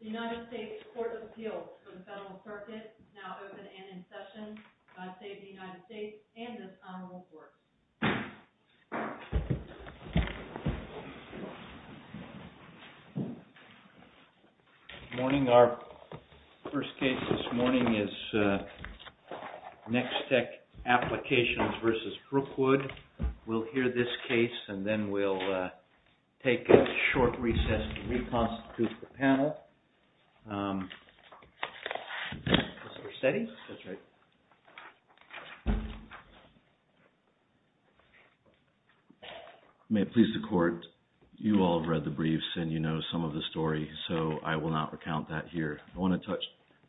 The United States Court of Appeals for the Federal Circuit is now open and in session. God save the United States and this honorable court. Good morning. Our first case this morning is NEXTEC APPLICATIONS v. BROOKWOOD. We'll hear this case and then we'll take a short recess to reconstitute the panel. May it please the court, you all have read the briefs and you know some of the story, so I will not recount that here. I want to touch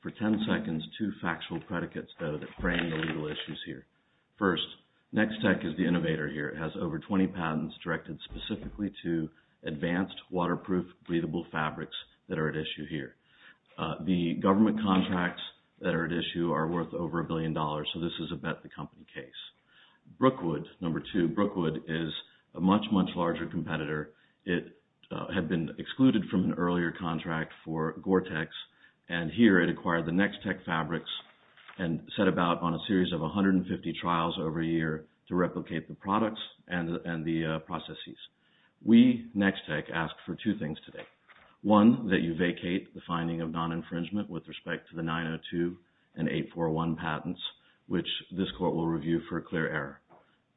for ten seconds two factual predicates though that frame the legal issues here. First, NEXTEC is the innovator here. It has over twenty patents directed specifically to advanced waterproof breathable fabrics that are at issue here. The government contracts that are at issue are worth over a billion dollars, so this is a bet the company case. Brookwood, number two, Brookwood is a much, much larger competitor. It had been excluded from an earlier contract for Gore-Tex and here it acquired the NEXTEC fabrics and set about on a series of 150 trials over a year to replicate the products and the processes. We, NEXTEC, ask for two things today. One, that you vacate the finding of non-infringement with respect to the 902 and 841 patents, which this court will review for clear error.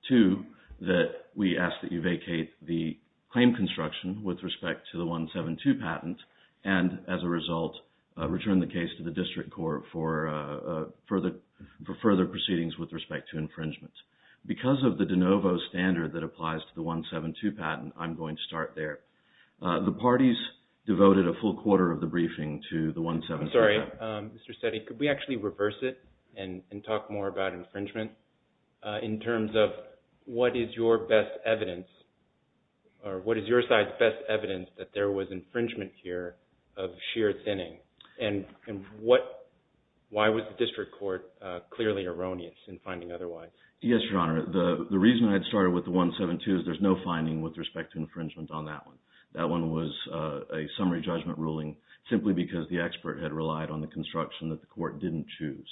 Two, that we ask that you vacate the claim construction with respect to the 172 patent and, as a result, return the case to the district court for further proceedings with respect to infringement. Because of the de novo standard that applies to the 172 patent, I'm going to start there. The parties devoted a full quarter of the briefing to the 172 patent. I'm sorry, Mr. Settey, could we actually reverse it and talk more about infringement in terms of what is your side's best evidence that there was infringement here of sheer thinning and why was the district court clearly erroneous in finding otherwise? Yes, Your Honor. The reason I had started with the 172 is there's no finding with respect to infringement on that one. That one was a summary judgment ruling simply because the expert had relied on the construction that the court didn't choose.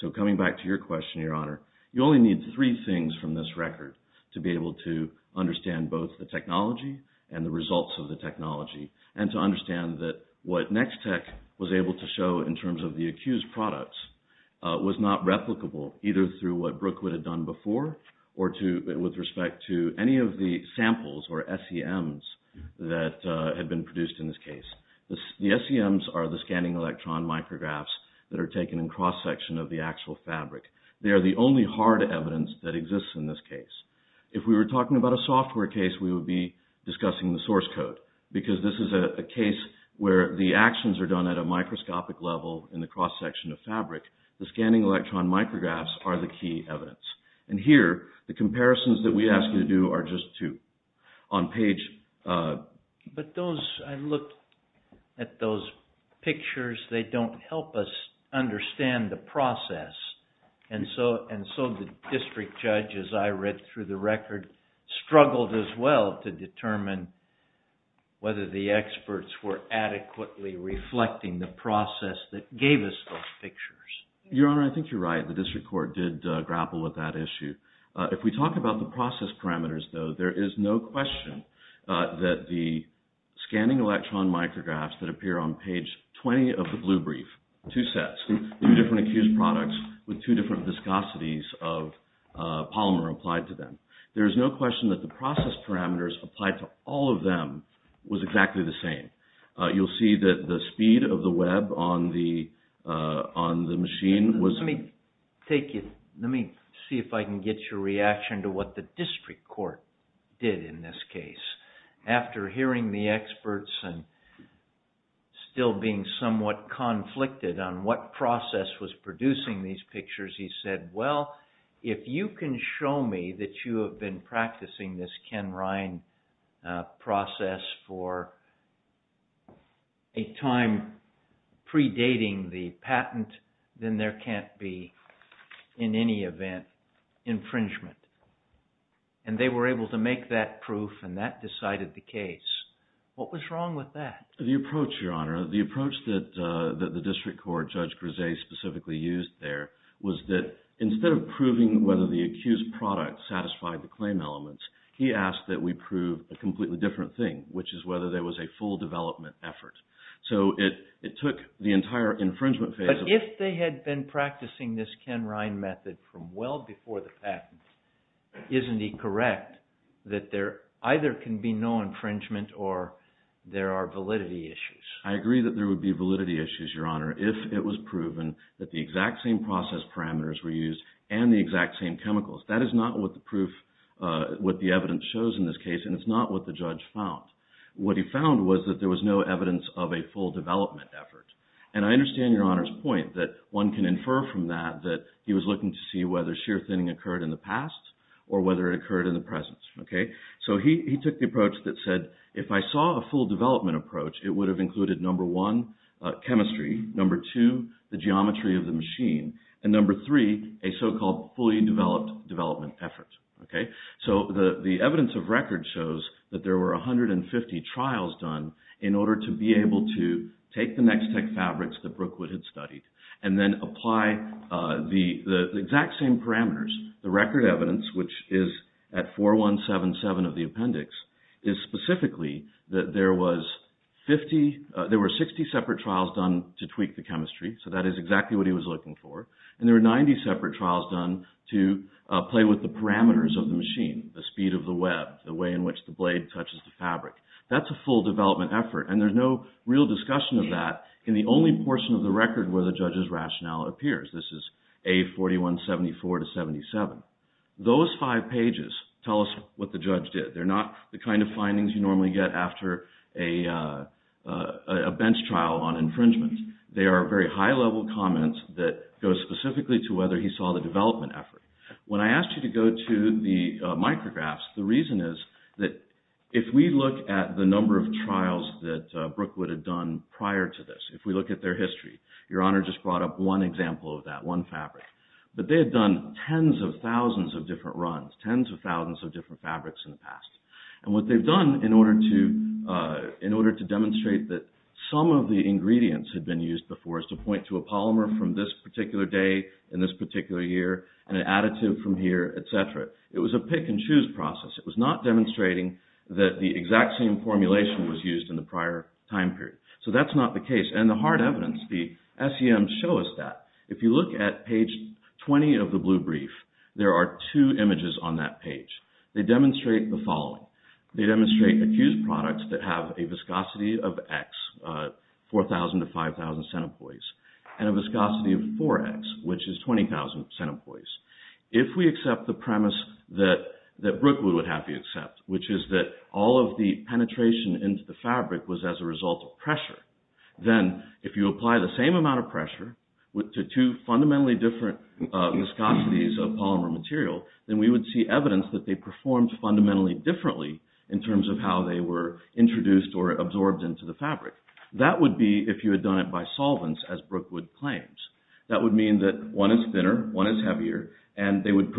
So coming back to your question, Your Honor, you only need three things from this record to be able to understand both the technology and the results of the technology and to understand that what Nextech was able to show in terms of the accused products was not replicable either through what Brookwood had done before or with respect to any of the samples or SEMs that had been produced in this case. The SEMs are the scanning electron micrographs that are taken in cross-section of the actual fabric. They are the only hard evidence that exists in this case. If we were talking about a software case, we would be discussing the source code because this is a case where the actions are done at a microscopic level in the cross-section of fabric. The scanning electron micrographs are the key evidence. And here, the comparisons that we ask you to do are just two. But I looked at those pictures. They don't help us understand the process. And so the district judge, as I read through the record, struggled as well to determine whether the experts were adequately reflecting the process that gave us those pictures. Your Honor, I think you're right. The district court did grapple with that issue. If we talk about the process parameters, though, there is no question that the scanning electron micrographs that appear on page 20 of the blue brief, two sets, two different accused products with two different viscosities of polymer applied to them, there is no question that the process parameters applied to all of them was exactly the same. You'll see that the speed of the web on the machine was... Let me see if I can get your reaction to what the district court did in this case. After hearing the experts and still being somewhat conflicted on what process was producing these pictures, he said, well, if you can show me that you have been practicing this Ken Ryan process for a time predating the patent, then there can't be, in any event, infringement. And they were able to make that proof, and that decided the case. What was wrong with that? The approach, Your Honor, the approach that the district court, Judge Grise, specifically used there was that instead of proving whether the accused product satisfied the claim elements, he asked that we prove a completely different thing, which is whether there was a full development effort. So it took the entire infringement phase... But if they had been practicing this Ken Ryan method from well before the patent, isn't he correct that there either can be no infringement or there are validity issues? I agree that there would be validity issues, Your Honor, if it was proven that the exact same process parameters were used and the exact same chemicals. That is not what the evidence shows in this case, and it's not what the judge found. What he found was that there was no evidence of a full development effort. And I understand Your Honor's point that one can infer from that that he was looking to see whether sheer thinning occurred in the past or whether it occurred in the present. So he took the approach that said, if I saw a full development approach, it would have included, number one, chemistry, number two, the geometry of the machine, and number three, a so-called fully developed development effort. So the evidence of record shows that there were 150 trials done in order to be able to take the next tech fabrics that Brookwood had studied and then apply the exact same parameters. The record evidence, which is at 4177 of the appendix, is specifically that there were 60 separate trials done to tweak the chemistry. So that is exactly what he was looking for. And there were 90 separate trials done to play with the parameters of the machine, the speed of the web, the way in which the blade touches the fabric. That's a full development effort, and there's no real discussion of that in the only portion of the record where the judge's rationale appears. This is A4174-77. Those five pages tell us what the judge did. They're not the kind of findings you normally get after a bench trial on infringement. They are very high-level comments that go specifically to whether he saw the development effort. When I asked you to go to the micrographs, the reason is that if we look at the number of trials that Brookwood had done prior to this, if we look at their history, Your Honor just brought up one example of that, one fabric. But they had done tens of thousands of different runs, tens of thousands of different fabrics in the past. And what they've done in order to demonstrate that some of the ingredients had been used before is to point to a polymer from this particular day, in this particular year, and an additive from here, etc. It was a pick-and-choose process. It was not demonstrating that the exact same formulation was used in the prior time period. So that's not the case. And the hard evidence, the SEMs show us that. If you look at page 20 of the blue brief, there are two images on that page. They demonstrate the following. They demonstrate accused products that have a viscosity of X, 4,000 to 5,000 centipoise, and a viscosity of 4X, which is 20,000 centipoise. If we accept the premise that Brookwood would happily accept, which is that all of the penetration into the fabric was as a result of pressure, then if you apply the same amount of pressure to two fundamentally different viscosities of polymer material, then we would see evidence that they performed fundamentally differently in terms of how they were introduced or absorbed into the fabric. That would be if you had done it by solvents, as Brookwood claims. That would mean that one is thinner, one is heavier, and they would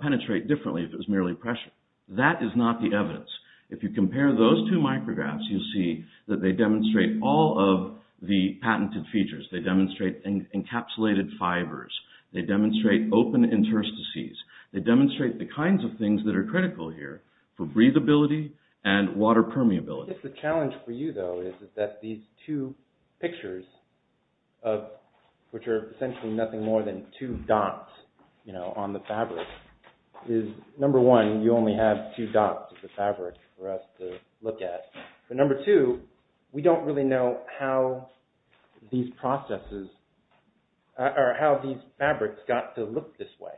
penetrate differently if it was merely pressure. That is not the evidence. If you compare those two micrographs, you'll see that they demonstrate all of the patented features. They demonstrate encapsulated fibers. They demonstrate open interstices. They demonstrate the kinds of things that are critical here for breathability and water permeability. The challenge for you, though, is that these two pictures, which are essentially nothing more than two dots on the fabric, is number one, you only have two dots of the fabric for us to look at. But number two, we don't really know how these fabrics got to look this way.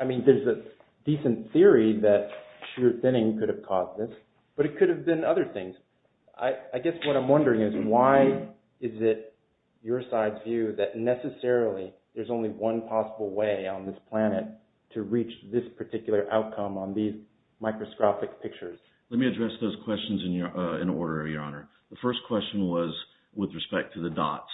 I mean, there's a decent theory that shear thinning could have caused this, but it could have been other things. I guess what I'm wondering is, why is it, your side's view, that necessarily there's only one possible way on this planet to reach this particular outcome on these microscopic pictures? Let me address those questions in order, Your Honor. The first question was with respect to the dots.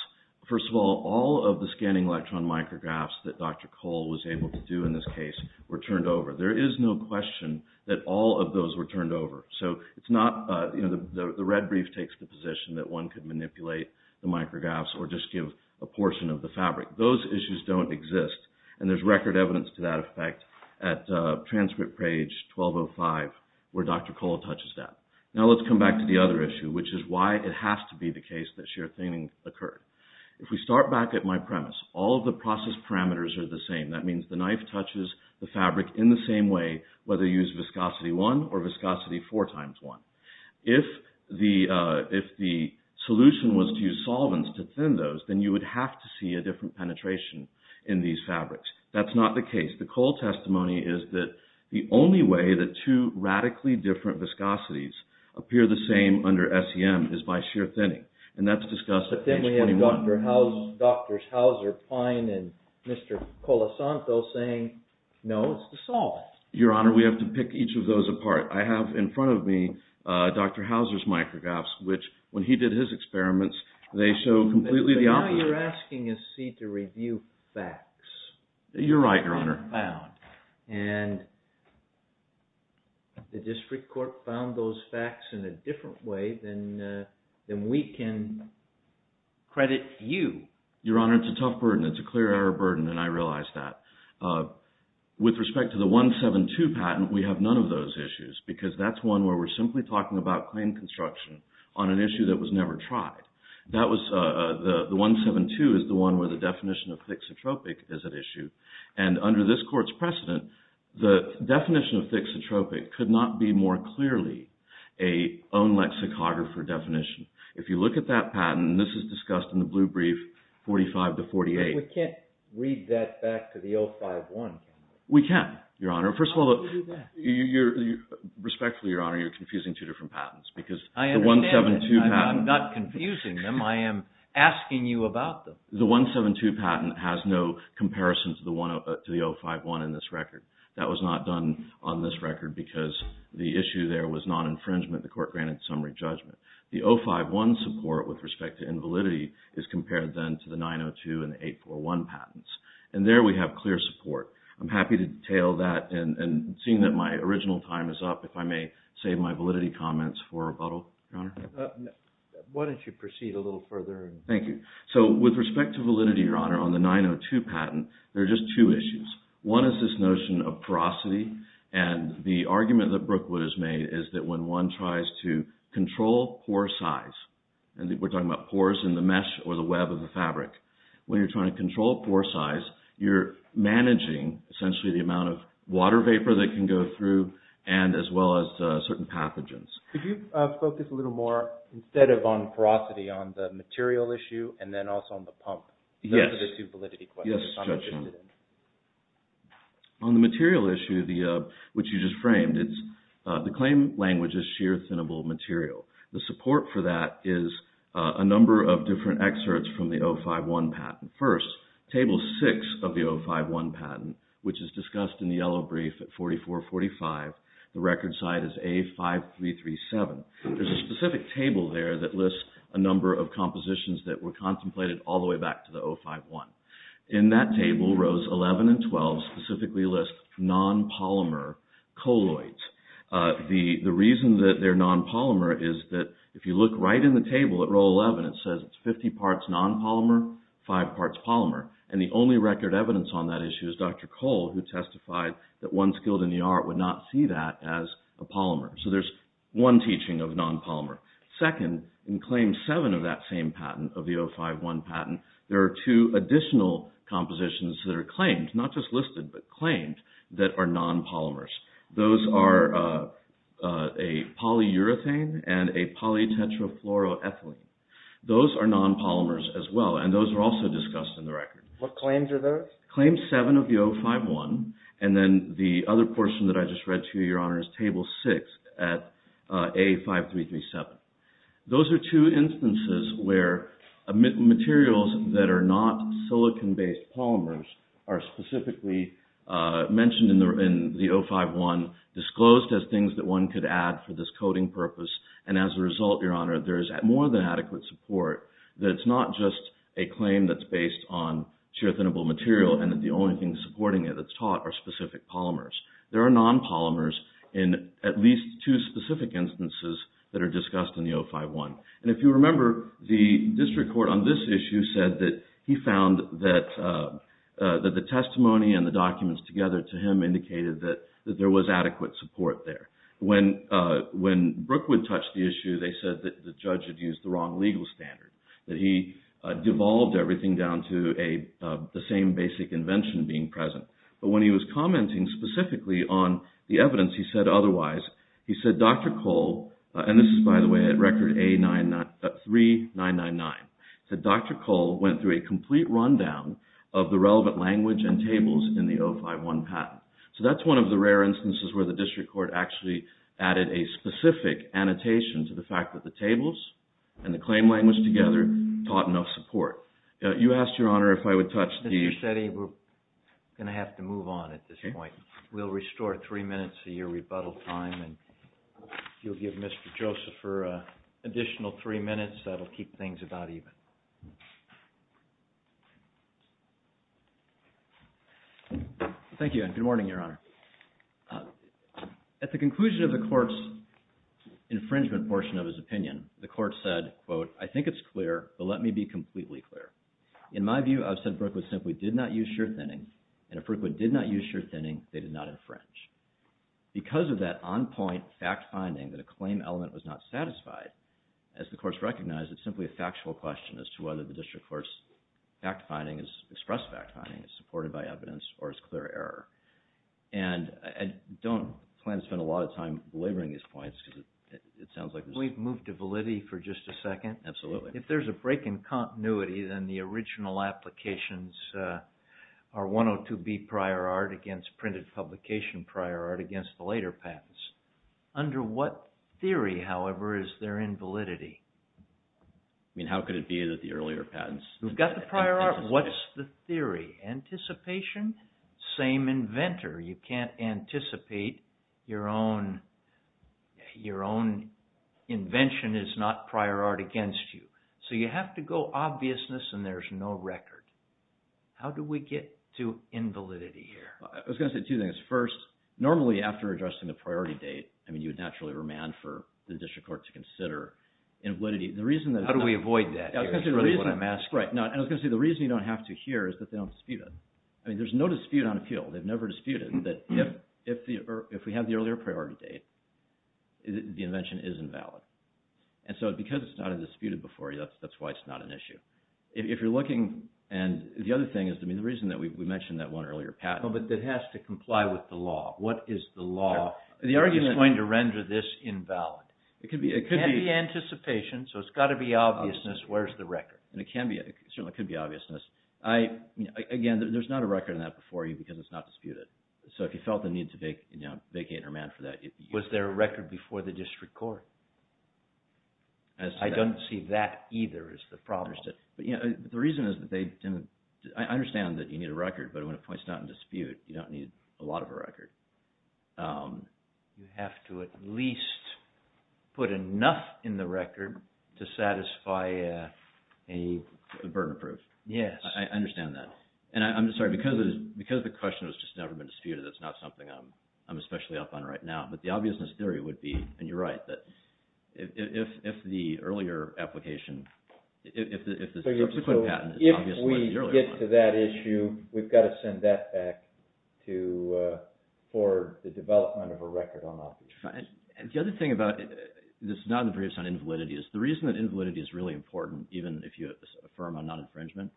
First of all, all of the scanning electron micrographs that Dr. Cole was able to do in this case were turned over. There is no question that all of those were turned over. So it's not, you know, the red brief takes the position that one could manipulate the micrographs or just give a portion of the fabric. Those issues don't exist, and there's record evidence to that effect at transcript page 1205, where Dr. Cole touches that. Now let's come back to the other issue, which is why it has to be the case that shear thinning occurred. If we start back at my premise, all of the process parameters are the same. That means the knife touches the fabric in the same way, whether you use viscosity 1 or viscosity 4 times 1. If the solution was to use solvents to thin those, then you would have to see a different penetration in these fabrics. That's not the case. The Cole testimony is that the only way that two radically different viscosities appear the same under SEM is by shear thinning. And that's discussed at page 21. But then we have Drs. Hauser, Pine, and Mr. Colasanto saying, no, it's the solvent. Your Honor, we have to pick each of those apart. I have in front of me Dr. Hauser's micrographs, which when he did his experiments, they show completely the opposite. But now you're asking us, see, to review facts. You're right, Your Honor. And the district court found those facts in a different way than we can credit you. Your Honor, it's a tough burden. It's a clear error burden, and I realize that. With respect to the 172 patent, we have none of those issues, because that's one where we're simply talking about claim construction on an issue that was never tried. The 172 is the one where the definition of thixotropic is at issue. And under this court's precedent, the definition of thixotropic could not be more clearly a own lexicographer definition. If you look at that patent, and this is discussed in the blue brief 45 to 48. But we can't read that back to the 051, can we? We can, Your Honor. How do we do that? Respectfully, Your Honor, you're confusing two different patents. I understand that. I'm not confusing them. I am asking you about them. The 172 patent has no comparison to the 051 in this record. That was not done on this record, because the issue there was non-infringement. The court granted summary judgment. The 051 support, with respect to invalidity, is compared then to the 902 and 841 patents. And there we have clear support. I'm happy to detail that. And seeing that my original time is up, if I may save my validity comments for rebuttal, Your Honor. Why don't you proceed a little further? Thank you. So, with respect to validity, Your Honor, on the 902 patent, there are just two issues. One is this notion of porosity. And the argument that Brookwood has made is that when one tries to control pore size, and we're talking about pores in the mesh or the web of the fabric. When you're trying to control pore size, you're managing, essentially, the amount of water vapor that can go through, and as well as certain pathogens. Could you focus a little more, instead of on porosity, on the material issue, and then also on the pump? Yes. Those are the two validity questions I'm interested in. On the material issue, which you just framed, the claim language is sheer, thinnable material. The support for that is a number of different excerpts from the 051 patent. First, Table 6 of the 051 patent, which is discussed in the yellow brief at 4445. The record site is A5337. There's a specific table there that lists a number of compositions that were contemplated all the way back to the 051. In that table, Rows 11 and 12 specifically list non-polymer colloids. The reason that they're non-polymer is that if you look right in the table at Row 11, it says it's 50 parts non-polymer, 5 parts polymer. The only record evidence on that issue is Dr. Cole, who testified that one skilled in the art would not see that as a polymer. There's one teaching of non-polymer. Second, in Claim 7 of that same patent, of the 051 patent, there are two additional compositions that are claimed, not just listed, but claimed, that are non-polymers. Those are a polyurethane and a polytetrafluoroethylene. Those are non-polymers as well, and those are also discussed in the record. What claims are those? Claim 7 of the 051, and then the other portion that I just read to you, Your Honor, is Table 6 at A5337. Those are two instances where materials that are not silicon-based polymers are specifically mentioned in the 051, disclosed as things that one could add for this coding purpose. And as a result, Your Honor, there is more than adequate support that it's not just a claim that's based on shear-thinnable material and that the only thing supporting it that's taught are specific polymers. There are non-polymers in at least two specific instances that are discussed in the 051. And if you remember, the district court on this issue said that he found that the testimony and the documents together to him indicated that there was adequate support there. When Brookwood touched the issue, they said that the judge had used the wrong legal standard, that he devolved everything down to the same basic invention being present. But when he was commenting specifically on the evidence, he said otherwise. He said, Dr. Cole – and this is, by the way, at Record A3999 – said Dr. Cole went through a complete rundown of the relevant language and tables in the 051 patent. So that's one of the rare instances where the district court actually added a specific annotation to the fact that the tables and the claim language together taught enough support. You asked, Your Honor, if I would touch the – Mr. Setti, we're going to have to move on at this point. We'll restore three minutes of your rebuttal time, and you'll give Mr. Joseph for an additional three minutes. That will keep things about even. Thank you. Thank you, and good morning, Your Honor. At the conclusion of the court's infringement portion of his opinion, the court said, quote, I think it's clear, but let me be completely clear. In my view, I've said Brookwood simply did not use surethinning, and if Brookwood did not use surethinning, they did not infringe. Because of that on-point fact-finding that a claim element was not satisfied, as the court's recognized, it's simply a factual question as to whether the district court's fact-finding is expressed fact-finding, is supported by evidence, or is clear error. And I don't plan to spend a lot of time belaboring these points because it sounds like – Can we move to validity for just a second? Absolutely. If there's a break in continuity, then the original applications are 102B prior art against printed publication prior art against the later patents. Under what theory, however, is there invalidity? I mean, how could it be that the earlier patents – We've got the prior art. What's the theory? Anticipation? Same inventor. You can't anticipate your own invention is not prior art against you. So you have to go obviousness, and there's no record. How do we get to invalidity here? I was going to say two things. First, normally after addressing the priority date, I mean, you would naturally remand for the district court to consider invalidity. How do we avoid that here is really what I'm asking. I was going to say the reason you don't have to hear is that they don't dispute it. I mean, there's no dispute on appeal. They've never disputed that if we have the earlier priority date, the invention is invalid. And so because it's not disputed before, that's why it's not an issue. If you're looking – and the other thing is, I mean, the reason that we mentioned that one earlier patent – But it has to comply with the law. What is the law? The argument – It's going to render this invalid. It can't be anticipation, so it's got to be obviousness. Where's the record? It certainly could be obviousness. Again, there's not a record on that before you because it's not disputed. So if you felt the need to vacate or remand for that – Was there a record before the district court? I don't see that either as the problem. The reason is that they didn't – I understand that you need a record, but when a point's not in dispute, you don't need a lot of a record. You have to at least put enough in the record to satisfy a – A burden proof. Yes. I understand that. And I'm sorry, because the question has just never been disputed, that's not something I'm especially up on right now. But the obviousness theory would be, and you're right, that if the earlier application – If we get to that issue, we've got to send that back to – for the development of a record on that. The other thing about – this is not in the briefs on invalidity. The reason that invalidity is really important, even if you affirm on non-infringement,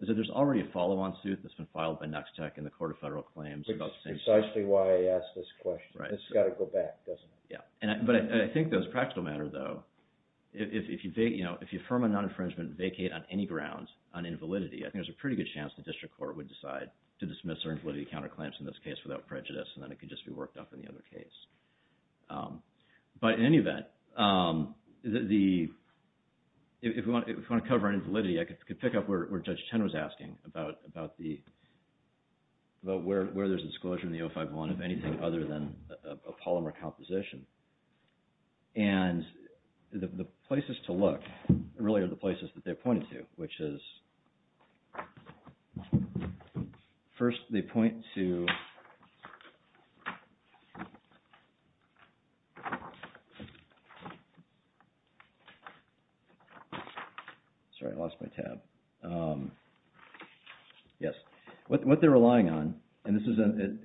is that there's already a follow-on suit that's been filed by NUXTEC and the Court of Federal Claims about – Which is precisely why I asked this question. Right. This has got to go back, doesn't it? Yeah. But I think that as a practical matter, though, if you affirm on non-infringement and vacate on any grounds on invalidity, I think there's a pretty good chance the district court would decide to dismiss our invalidity counterclaims in this case without prejudice, and then it could just be worked up in the other case. But in any event, if we want to cover on invalidity, I could pick up where Judge Chen was asking about where there's a disclosure in the 051 of anything other than a polymer composition. And the places to look really are the places that they pointed to, which is – first, they point to – sorry, I lost my tab. Yes. What they're relying on – and this is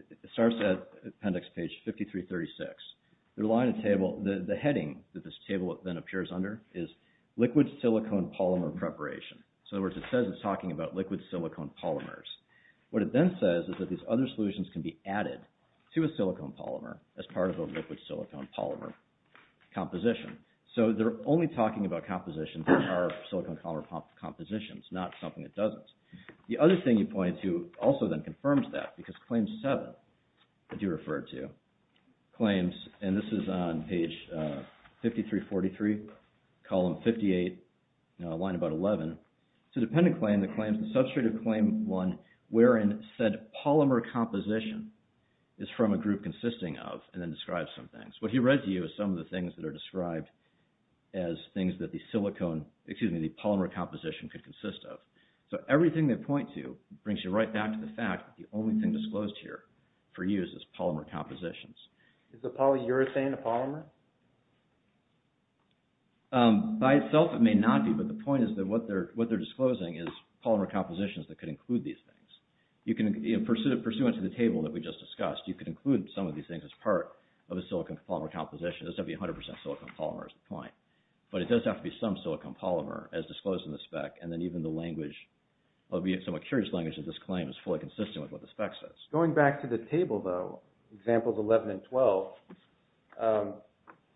– it starts at appendix page 5336. They're relying on a table – the heading that this table then appears under is liquid silicone polymer preparation. So in other words, it says it's talking about liquid silicone polymers. What it then says is that these other solutions can be added to a silicone polymer as part of a liquid silicone polymer composition. So they're only talking about compositions that are silicone polymer compositions, not something that doesn't. The other thing he pointed to also then confirms that, because claim 7 that you referred to claims – and this is on page 5343, column 58, line about 11. It's a dependent claim that claims – a substrative claim 1 wherein said polymer composition is from a group consisting of – and then describes some things. What he read to you is some of the things that are described as things that the silicone – excuse me, the polymer composition could consist of. So everything they point to brings you right back to the fact that the only thing disclosed here for use is polymer compositions. Is the polyurethane a polymer? By itself, it may not be, but the point is that what they're disclosing is polymer compositions that could include these things. You can – pursuant to the table that we just discussed, you could include some of these things as part of a silicone polymer composition. It doesn't have to be 100% silicone polymer is the point. But it does have to be some silicone polymer as disclosed in the spec, and then even the language, albeit somewhat curious language of this claim, is fully consistent with what the spec says. Going back to the table though, examples 11 and 12,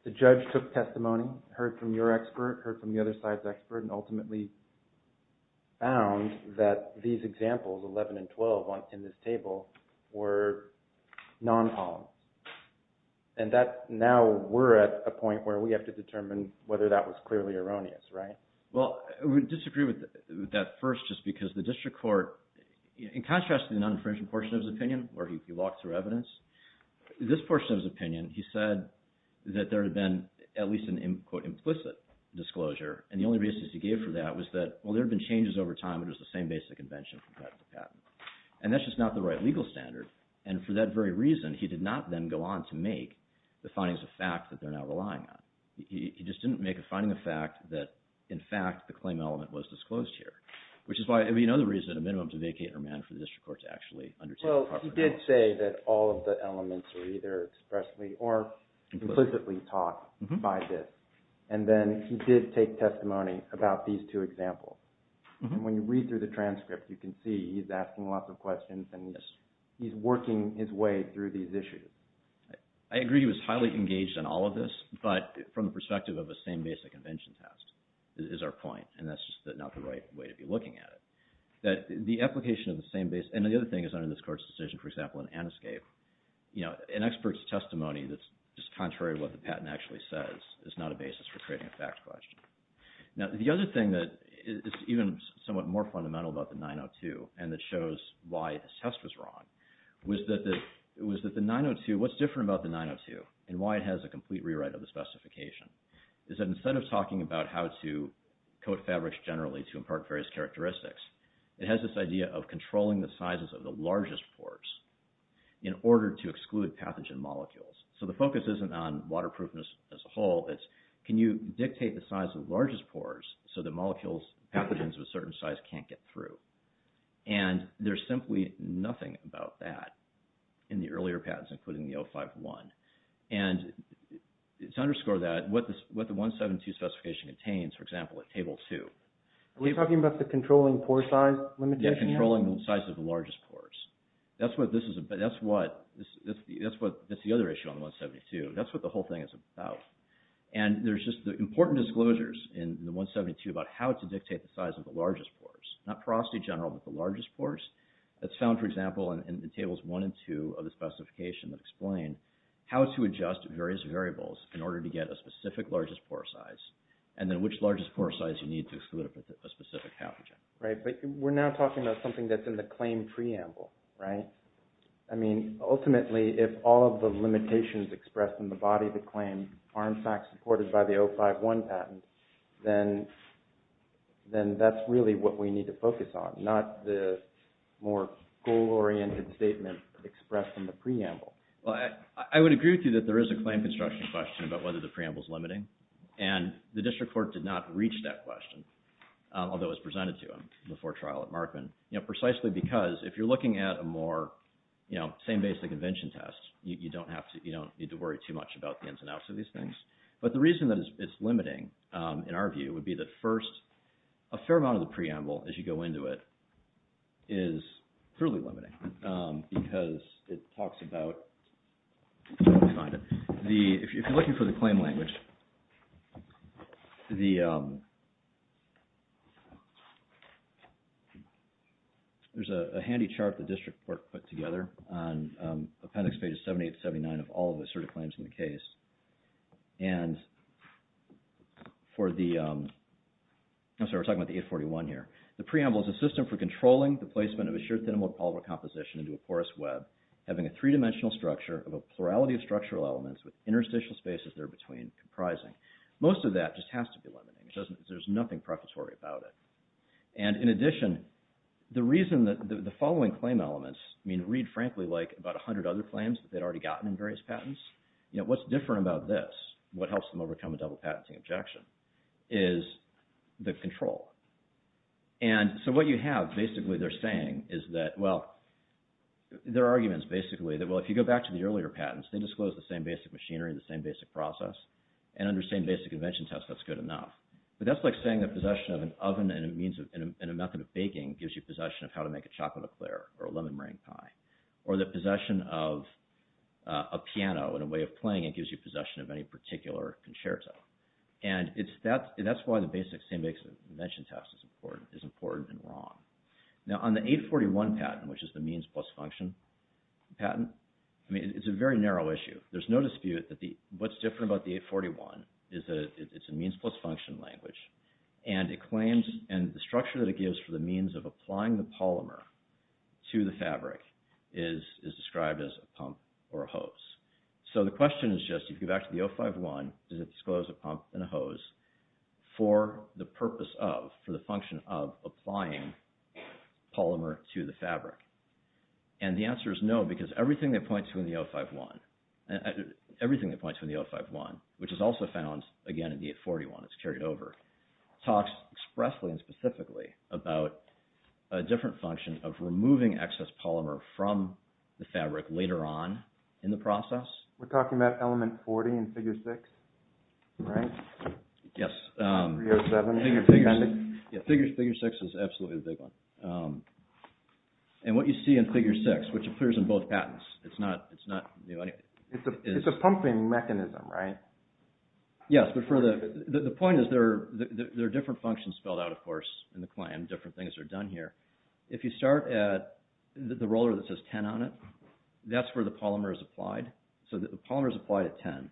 the judge took testimony, heard from your expert, heard from the other side's expert, and ultimately found that these examples, 11 and 12 in this table, were non-polymer. And that – now we're at a point where we have to determine whether that was clearly erroneous, right? Well, I would disagree with that first just because the district court, in contrast to the non-infringement portion of his opinion where he walked through evidence, this portion of his opinion, he said that there had been at least an, quote, implicit disclosure. And the only basis he gave for that was that, well, there had been changes over time, but it was the same basic invention from patent to patent. And that's just not the right legal standard. And for that very reason, he did not then go on to make the findings of fact that they're now relying on. He just didn't make a finding of fact that, in fact, the claim element was disclosed here, which is why – I mean, you know the reason, a minimum to vacate or amend for the district court to actually undertake the property. Well, he did say that all of the elements were either expressly or implicitly taught by this. And then he did take testimony about these two examples. And when you read through the transcript, you can see he's asking lots of questions and he's working his way through these issues. I agree he was highly engaged in all of this, but from the perspective of the same basic invention test is our point. And that's just not the right way to be looking at it. The application of the same – and the other thing is under this court's decision, for example, in Aniscape, an expert's testimony that's just contrary to what the patent actually says is not a basis for creating a fact question. Now, the other thing that is even somewhat more fundamental about the 902 and that shows why this test was wrong was that the 902 – what's different about the 902 and why it has a complete rewrite of the specification is that instead of talking about how to coat fabrics generally to impart various characteristics, it has this idea of controlling the sizes of the largest pores in order to exclude pathogen molecules. So the focus isn't on waterproofness as a whole. It's can you dictate the size of the largest pores so the molecules – pathogens of a certain size can't get through. And there's simply nothing about that in the earlier patents, including the 051. And to underscore that, what the 172 specification contains, for example, at Table 2 – Are we talking about the controlling pore size limitation? Yeah, controlling the size of the largest pores. That's what this is – that's what – that's the other issue on the 172. That's what the whole thing is about. And there's just important disclosures in the 172 about how to dictate the size of the largest pores. Not porosity general, but the largest pores. That's found, for example, in Tables 1 and 2 of the specification that explain how to adjust various variables in order to get a specific largest pore size and then which largest pore size you need to exclude a specific pathogen. Right, but we're now talking about something that's in the claim preamble, right? I mean, ultimately, if all of the limitations expressed in the body of the claim are in fact supported by the 051 patent, then that's really what we need to focus on, not the more goal-oriented statement expressed in the preamble. Well, I would agree with you that there is a claim construction question about whether the preamble is limiting. And the District Court did not reach that question, although it was presented to them before trial at Markman. You know, precisely because if you're looking at a more, you know, same basic invention test, you don't have to, you don't need to worry too much about the ins and outs of these things. But the reason that it's limiting, in our view, would be that first, a fair amount of the preamble, as you go into it, is clearly limiting because it talks about, if you're looking for the claim language, there's a handy chart the District Court put together on appendix pages 78 and 79 of all the asserted claims in the case. And for the, I'm sorry, we're talking about the 841 here. The preamble is a system for controlling the placement of a sheer, thin-molded polymer composition into a porous web, having a three-dimensional structure of a plurality of structural elements with interstitial spaces there between comprising. Most of that just has to be limiting. There's nothing prefatory about it. And in addition, the reason that the following claim elements, I mean, read frankly like about 100 other claims that they'd already gotten in various patents. You know, what's different about this, what helps them overcome a double-patenting objection, is the control. And so what you have, basically, they're saying is that, well, their argument is basically that, well, if you go back to the earlier patents, they disclosed the same basic machinery, the same basic process, and under the same basic invention test, that's good enough. But that's like saying the possession of an oven and a method of baking gives you possession of how to make a chocolate eclair or a lemon meringue pie, or the possession of a piano and a way of playing it gives you possession of any particular concerto. And that's why the basic same basic invention test is important and wrong. Now, on the 841 patent, which is the means plus function patent, I mean, it's a very narrow issue. There's no dispute that what's different about the 841 is that it's a means plus function language. And the structure that it gives for the means of applying the polymer to the fabric is described as a pump or a hose. So the question is just, if you go back to the 051, does it disclose a pump and a hose for the purpose of, for the function of applying polymer to the fabric? And the answer is no, because everything they point to in the 051, everything they point to in the 051, which is also found, again, in the 841. It's carried over. It talks expressly and specifically about a different function of removing excess polymer from the fabric later on in the process. We're talking about element 40 in Figure 6, right? Yes. 307. Figure 6 is absolutely the big one. And what you see in Figure 6, which appears in both patents, it's not new. It's a pumping mechanism, right? Yes, but the point is there are different functions spelled out, of course, in the claim. Different things are done here. If you start at the roller that says 10 on it, that's where the polymer is applied. So the polymer is applied at 10.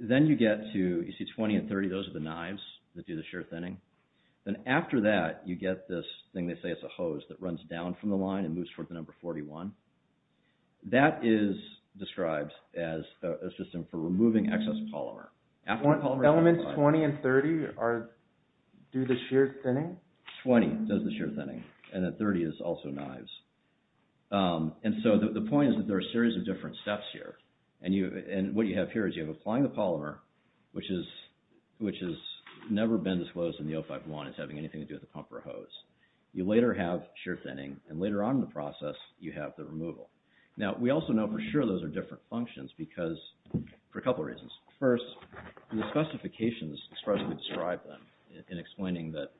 Then you get to, you see 20 and 30, those are the knives that do the shear thinning. Then after that, you get this thing they say is a hose that runs down from the line and moves toward the number 41. That is described as a system for removing excess polymer. Elements 20 and 30 do the shear thinning? 20 does the shear thinning, and then 30 is also knives. And so the point is that there are a series of different steps here. And what you have here is you have applying the polymer, which has never been disclosed in the 051 as having anything to do with a pump or a hose. You later have shear thinning, and later on in the process, you have the removal. Now, we also know for sure those are different functions because, for a couple of reasons. First, the specifications expressly describe them in explaining that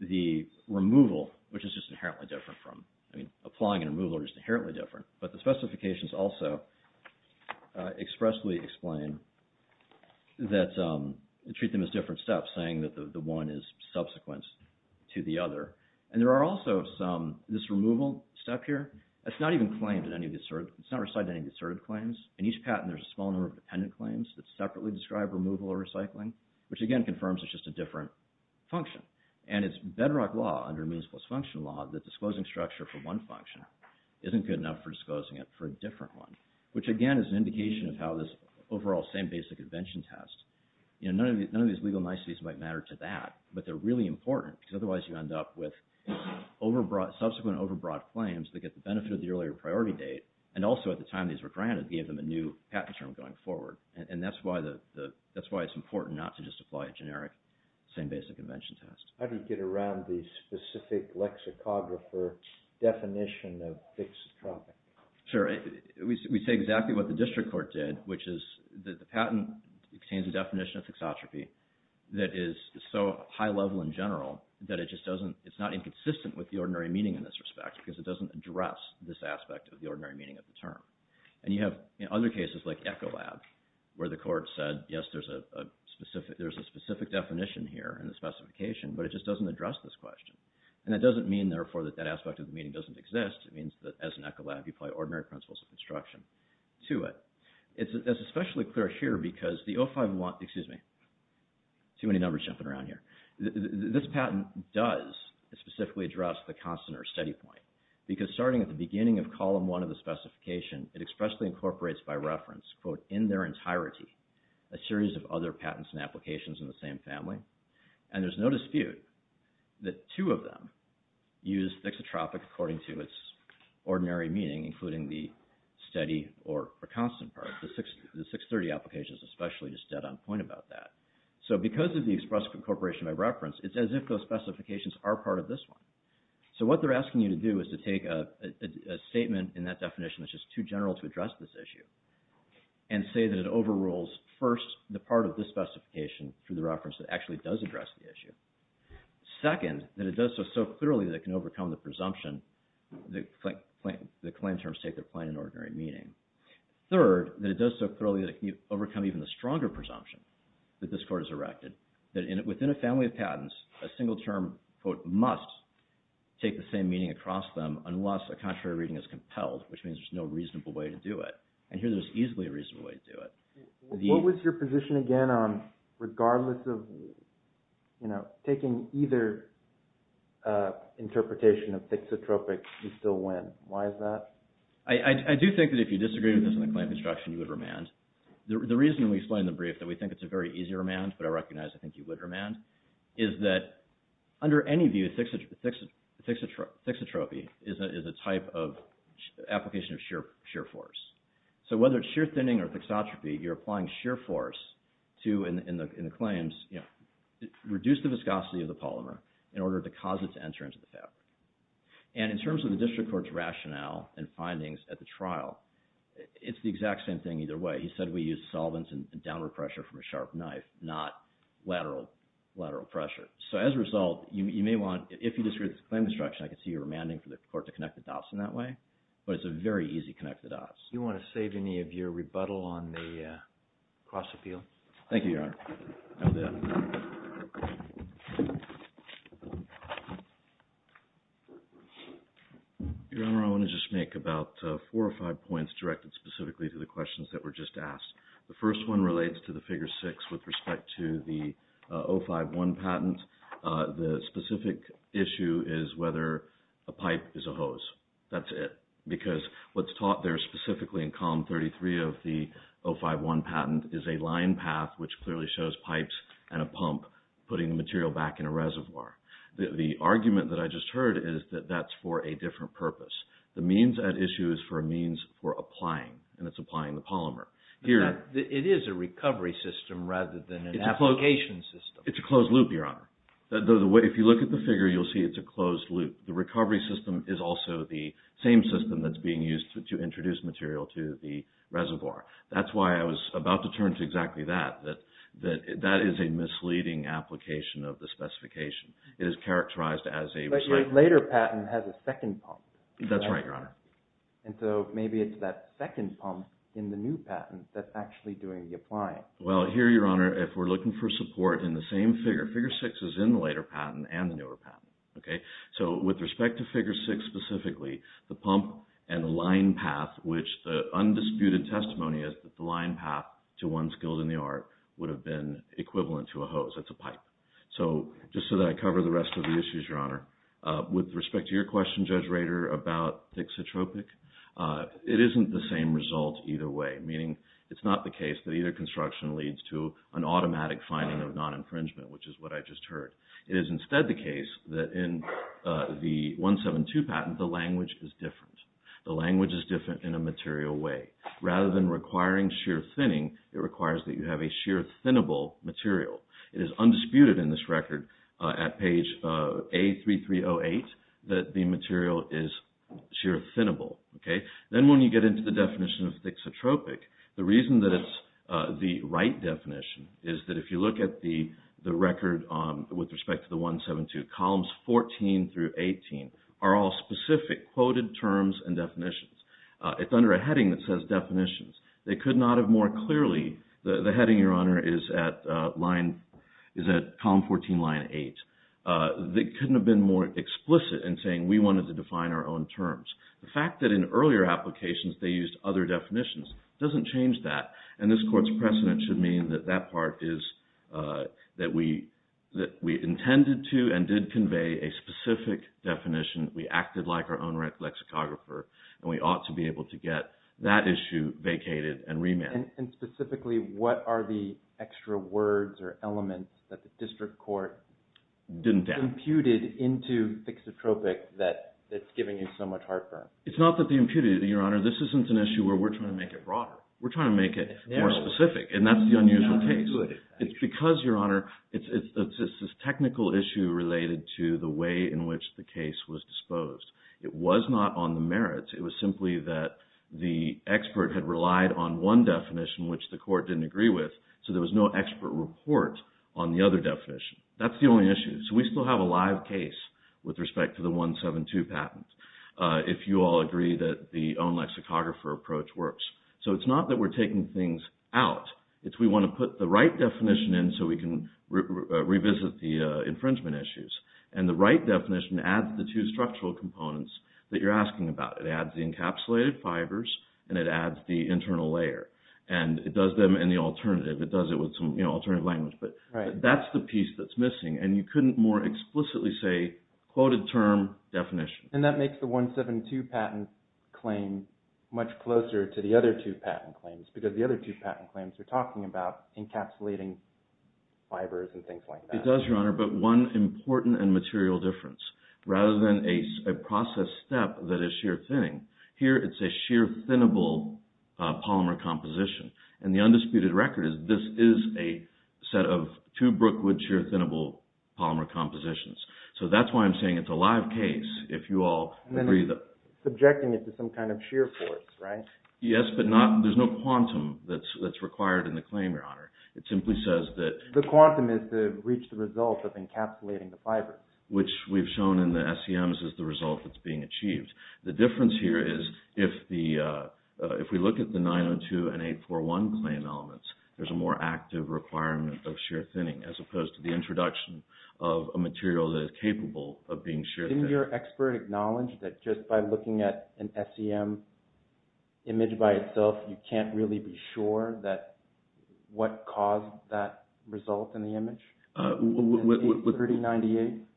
the removal, which is just inherently different from, I mean, applying and removal are just inherently different. But the specifications also expressly explain that, treat them as different steps, saying that the one is subsequent to the other. And there are also some, this removal step here, it's not even claimed in any of these, it's not recited in any of these asserted claims. In each patent, there's a small number of dependent claims that separately describe removal or recycling, which again confirms it's just a different function. And it's bedrock law, under means plus function law, that disclosing structure for one function isn't good enough for disclosing it for a different one. Which again is an indication of how this overall same basic invention test, you know, none of these legal niceties might matter to that. But they're really important because otherwise you end up with subsequent overbroad claims that get the benefit of the earlier priority date. And also at the time these were granted gave them a new patent term going forward. And that's why it's important not to just apply a generic same basic invention test. How do you get around the specific lexicographer definition of fixotropic? Sure, we say exactly what the district court did, which is that the patent contains a definition of fixotropy that is so high level in general that it just doesn't, it's not inconsistent with the ordinary meaning in this respect because it doesn't address this aspect of the ordinary meaning of the term. And you have other cases like Ecolab where the court said, yes, there's a specific definition here in the specification, but it just doesn't address this question. And that doesn't mean, therefore, that that aspect of the meaning doesn't exist. It means that as an Ecolab you apply ordinary principles of construction to it. It's especially clear here because the 051, excuse me, too many numbers jumping around here. This patent does specifically address the constant or steady point because starting at the beginning of column one of the specification, it expressly incorporates by reference, quote, in their entirety, a series of other patents and applications in the same family. And there's no dispute that two of them use fixotropic according to its ordinary meaning, including the steady or constant part. The 630 application is especially just dead on point about that. So because of the express incorporation by reference, it's as if those specifications are part of this one. So what they're asking you to do is to take a statement in that definition that's just too general to address this issue and say that it overrules, first, the part of this specification through the reference that actually does address the issue. Second, that it does so clearly that it can overcome the presumption that claim terms take their plain and ordinary meaning. Third, that it does so clearly that it can overcome even the stronger presumption that this court has erected, that within a family of patents, a single term, quote, must take the same meaning across them unless a contrary reading is compelled, which means there's no reasonable way to do it. And here there's easily a reasonable way to do it. What was your position again on regardless of taking either interpretation of fixotropic, you still win? Why is that? Well, I do think that if you disagree with this in the claim construction, you would remand. The reason we explain in the brief that we think it's a very easy remand, but I recognize I think you would remand, is that under any view, fixotropy is a type of application of sheer force. So whether it's sheer thinning or fixotropy, you're applying sheer force to, in the claims, reduce the viscosity of the polymer in order to cause it to enter into the family. And in terms of the district court's rationale and findings at the trial, it's the exact same thing either way. He said we use solvents and downward pressure from a sharp knife, not lateral pressure. So as a result, you may want, if you disagree with this claim construction, I can see you remanding for the court to connect the dots in that way. But it's a very easy connect the dots. Do you want to save any of your rebuttal on the cross appeal? Thank you, Your Honor. I'm done. Your Honor, I want to just make about four or five points directed specifically to the questions that were just asked. The first one relates to the figure six with respect to the 051 patent. The specific issue is whether a pipe is a hose. That's it. Because what's taught there specifically in column 33 of the 051 patent is a line path, which clearly shows pipes and a pump putting the material back in a reservoir. The argument that I just heard is that that's for a different purpose. The means at issue is for a means for applying, and it's applying the polymer. It is a recovery system rather than an application system. It's a closed loop, Your Honor. If you look at the figure, you'll see it's a closed loop. The recovery system is also the same system that's being used to introduce material to the reservoir. That's why I was about to turn to exactly that. That is a misleading application of the specification. It is characterized as a recycling. But your later patent has a second pump. That's right, Your Honor. And so maybe it's that second pump in the new patent that's actually doing the applying. Well, here, Your Honor, if we're looking for support in the same figure, figure six is in the later patent and the newer patent. Okay? So with respect to figure six specifically, the pump and the line path, which the undisputed testimony is that the line path to one skilled in the art would have been equivalent to a hose. It's a pipe. So just so that I cover the rest of the issues, Your Honor, with respect to your question, Judge Rader, about Thixotropic, it isn't the same result either way, meaning it's not the case that either construction leads to an automatic finding of non-infringement, which is what I just heard. It is instead the case that in the 172 patent, the language is different. The language is different in a material way. Rather than requiring sheer thinning, it requires that you have a sheer thinnable material. It is undisputed in this record at page A3308 that the material is sheer thinnable. Okay? Then when you get into the definition of Thixotropic, the reason that it's the right definition is that if you look at the record with respect to the 172, columns 14 through 18 are all specific quoted terms and definitions. It's under a heading that says definitions. They could not have more clearly – the heading, Your Honor, is at column 14, line 8. They couldn't have been more explicit in saying we wanted to define our own terms. The fact that in earlier applications they used other definitions doesn't change that, and this court's precedent should mean that that part is that we intended to and did convey a specific definition. We acted like our own lexicographer, and we ought to be able to get that issue vacated and remanded. And specifically, what are the extra words or elements that the district court imputed into Thixotropic that's giving you so much heartburn? It's not that they imputed it, Your Honor. This isn't an issue where we're trying to make it broader. We're trying to make it more specific, and that's the unusual case. It's because, Your Honor, it's this technical issue related to the way in which the case was disposed. It was not on the merits. It was simply that the expert had relied on one definition, which the court didn't agree with, so there was no expert report on the other definition. That's the only issue. So we still have a live case with respect to the 172 patent, if you all agree that the own lexicographer approach works. So it's not that we're taking things out. It's we want to put the right definition in so we can revisit the infringement issues, and the right definition adds the two structural components that you're asking about. It adds the encapsulated fibers, and it adds the internal layer, and it does them in the alternative. It does it with some alternative language, but that's the piece that's missing, and you couldn't more explicitly say quoted term definition. And that makes the 172 patent claim much closer to the other two patent claims because the other two patent claims are talking about encapsulating fibers and things like that. It does, Your Honor, but one important and material difference. Rather than a process step that is sheer thinning, here it's a sheer thinnable polymer composition, and the undisputed record is this is a set of two Brookwood sheer thinnable polymer compositions. So that's why I'm saying it's a live case, if you all agree that… And then subjecting it to some kind of sheer force, right? Yes, but there's no quantum that's required in the claim, Your Honor. It simply says that… The quantum is to reach the result of encapsulating the fibers. Which we've shown in the SEMs is the result that's being achieved. The difference here is if we look at the 902 and 841 claim elements, there's a more active requirement of sheer thinning, as opposed to the introduction of a material that is capable of being sheer thinned. Didn't your expert acknowledge that just by looking at an SEM image by itself, you can't really be sure what caused that result in the image?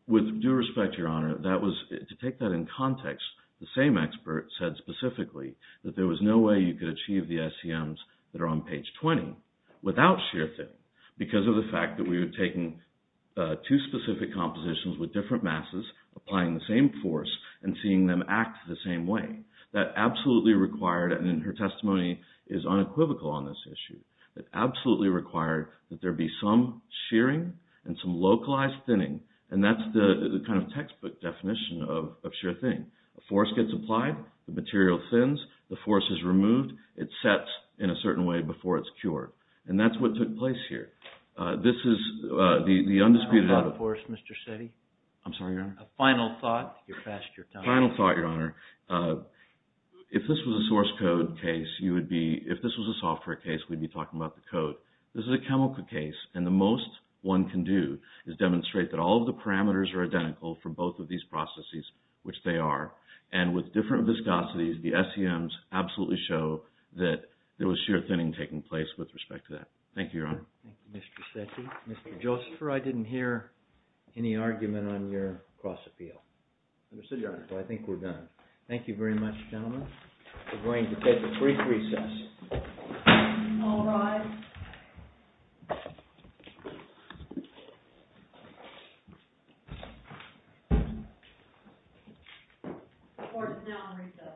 With due respect, Your Honor, to take that in context, the same expert said specifically that there was no way you could achieve the SEMs that are on page 20 without sheer thinning, because of the fact that we were taking two specific compositions with different masses, applying the same force, and seeing them act the same way. That absolutely required, and her testimony is unequivocal on this issue, that absolutely required that there be some sheering and some localized thinning, and that's the kind of textbook definition of sheer thinning. A force gets applied, the material thins, the force is removed, it sets in a certain way before it's cured. And that's what took place here. This is the undisputed... How about force, Mr. Setti? I'm sorry, Your Honor? A final thought, you're past your time. Final thought, Your Honor. If this was a source code case, you would be... If this was a software case, we'd be talking about the code. This is a chemical case, and the most one can do is demonstrate that all of the parameters are identical for both of these processes, which they are. And with different viscosities, the SEMs absolutely show that there was sheer thinning taking place with respect to that. Thank you, Your Honor. Thank you, Mr. Setti. Mr. Josepher, I didn't hear any argument on your cross-appeal. Understood, Your Honor. So I think we're done. Thank you very much, gentlemen. We're going to take a brief recess. All rise. The court is now in recess. Thank you.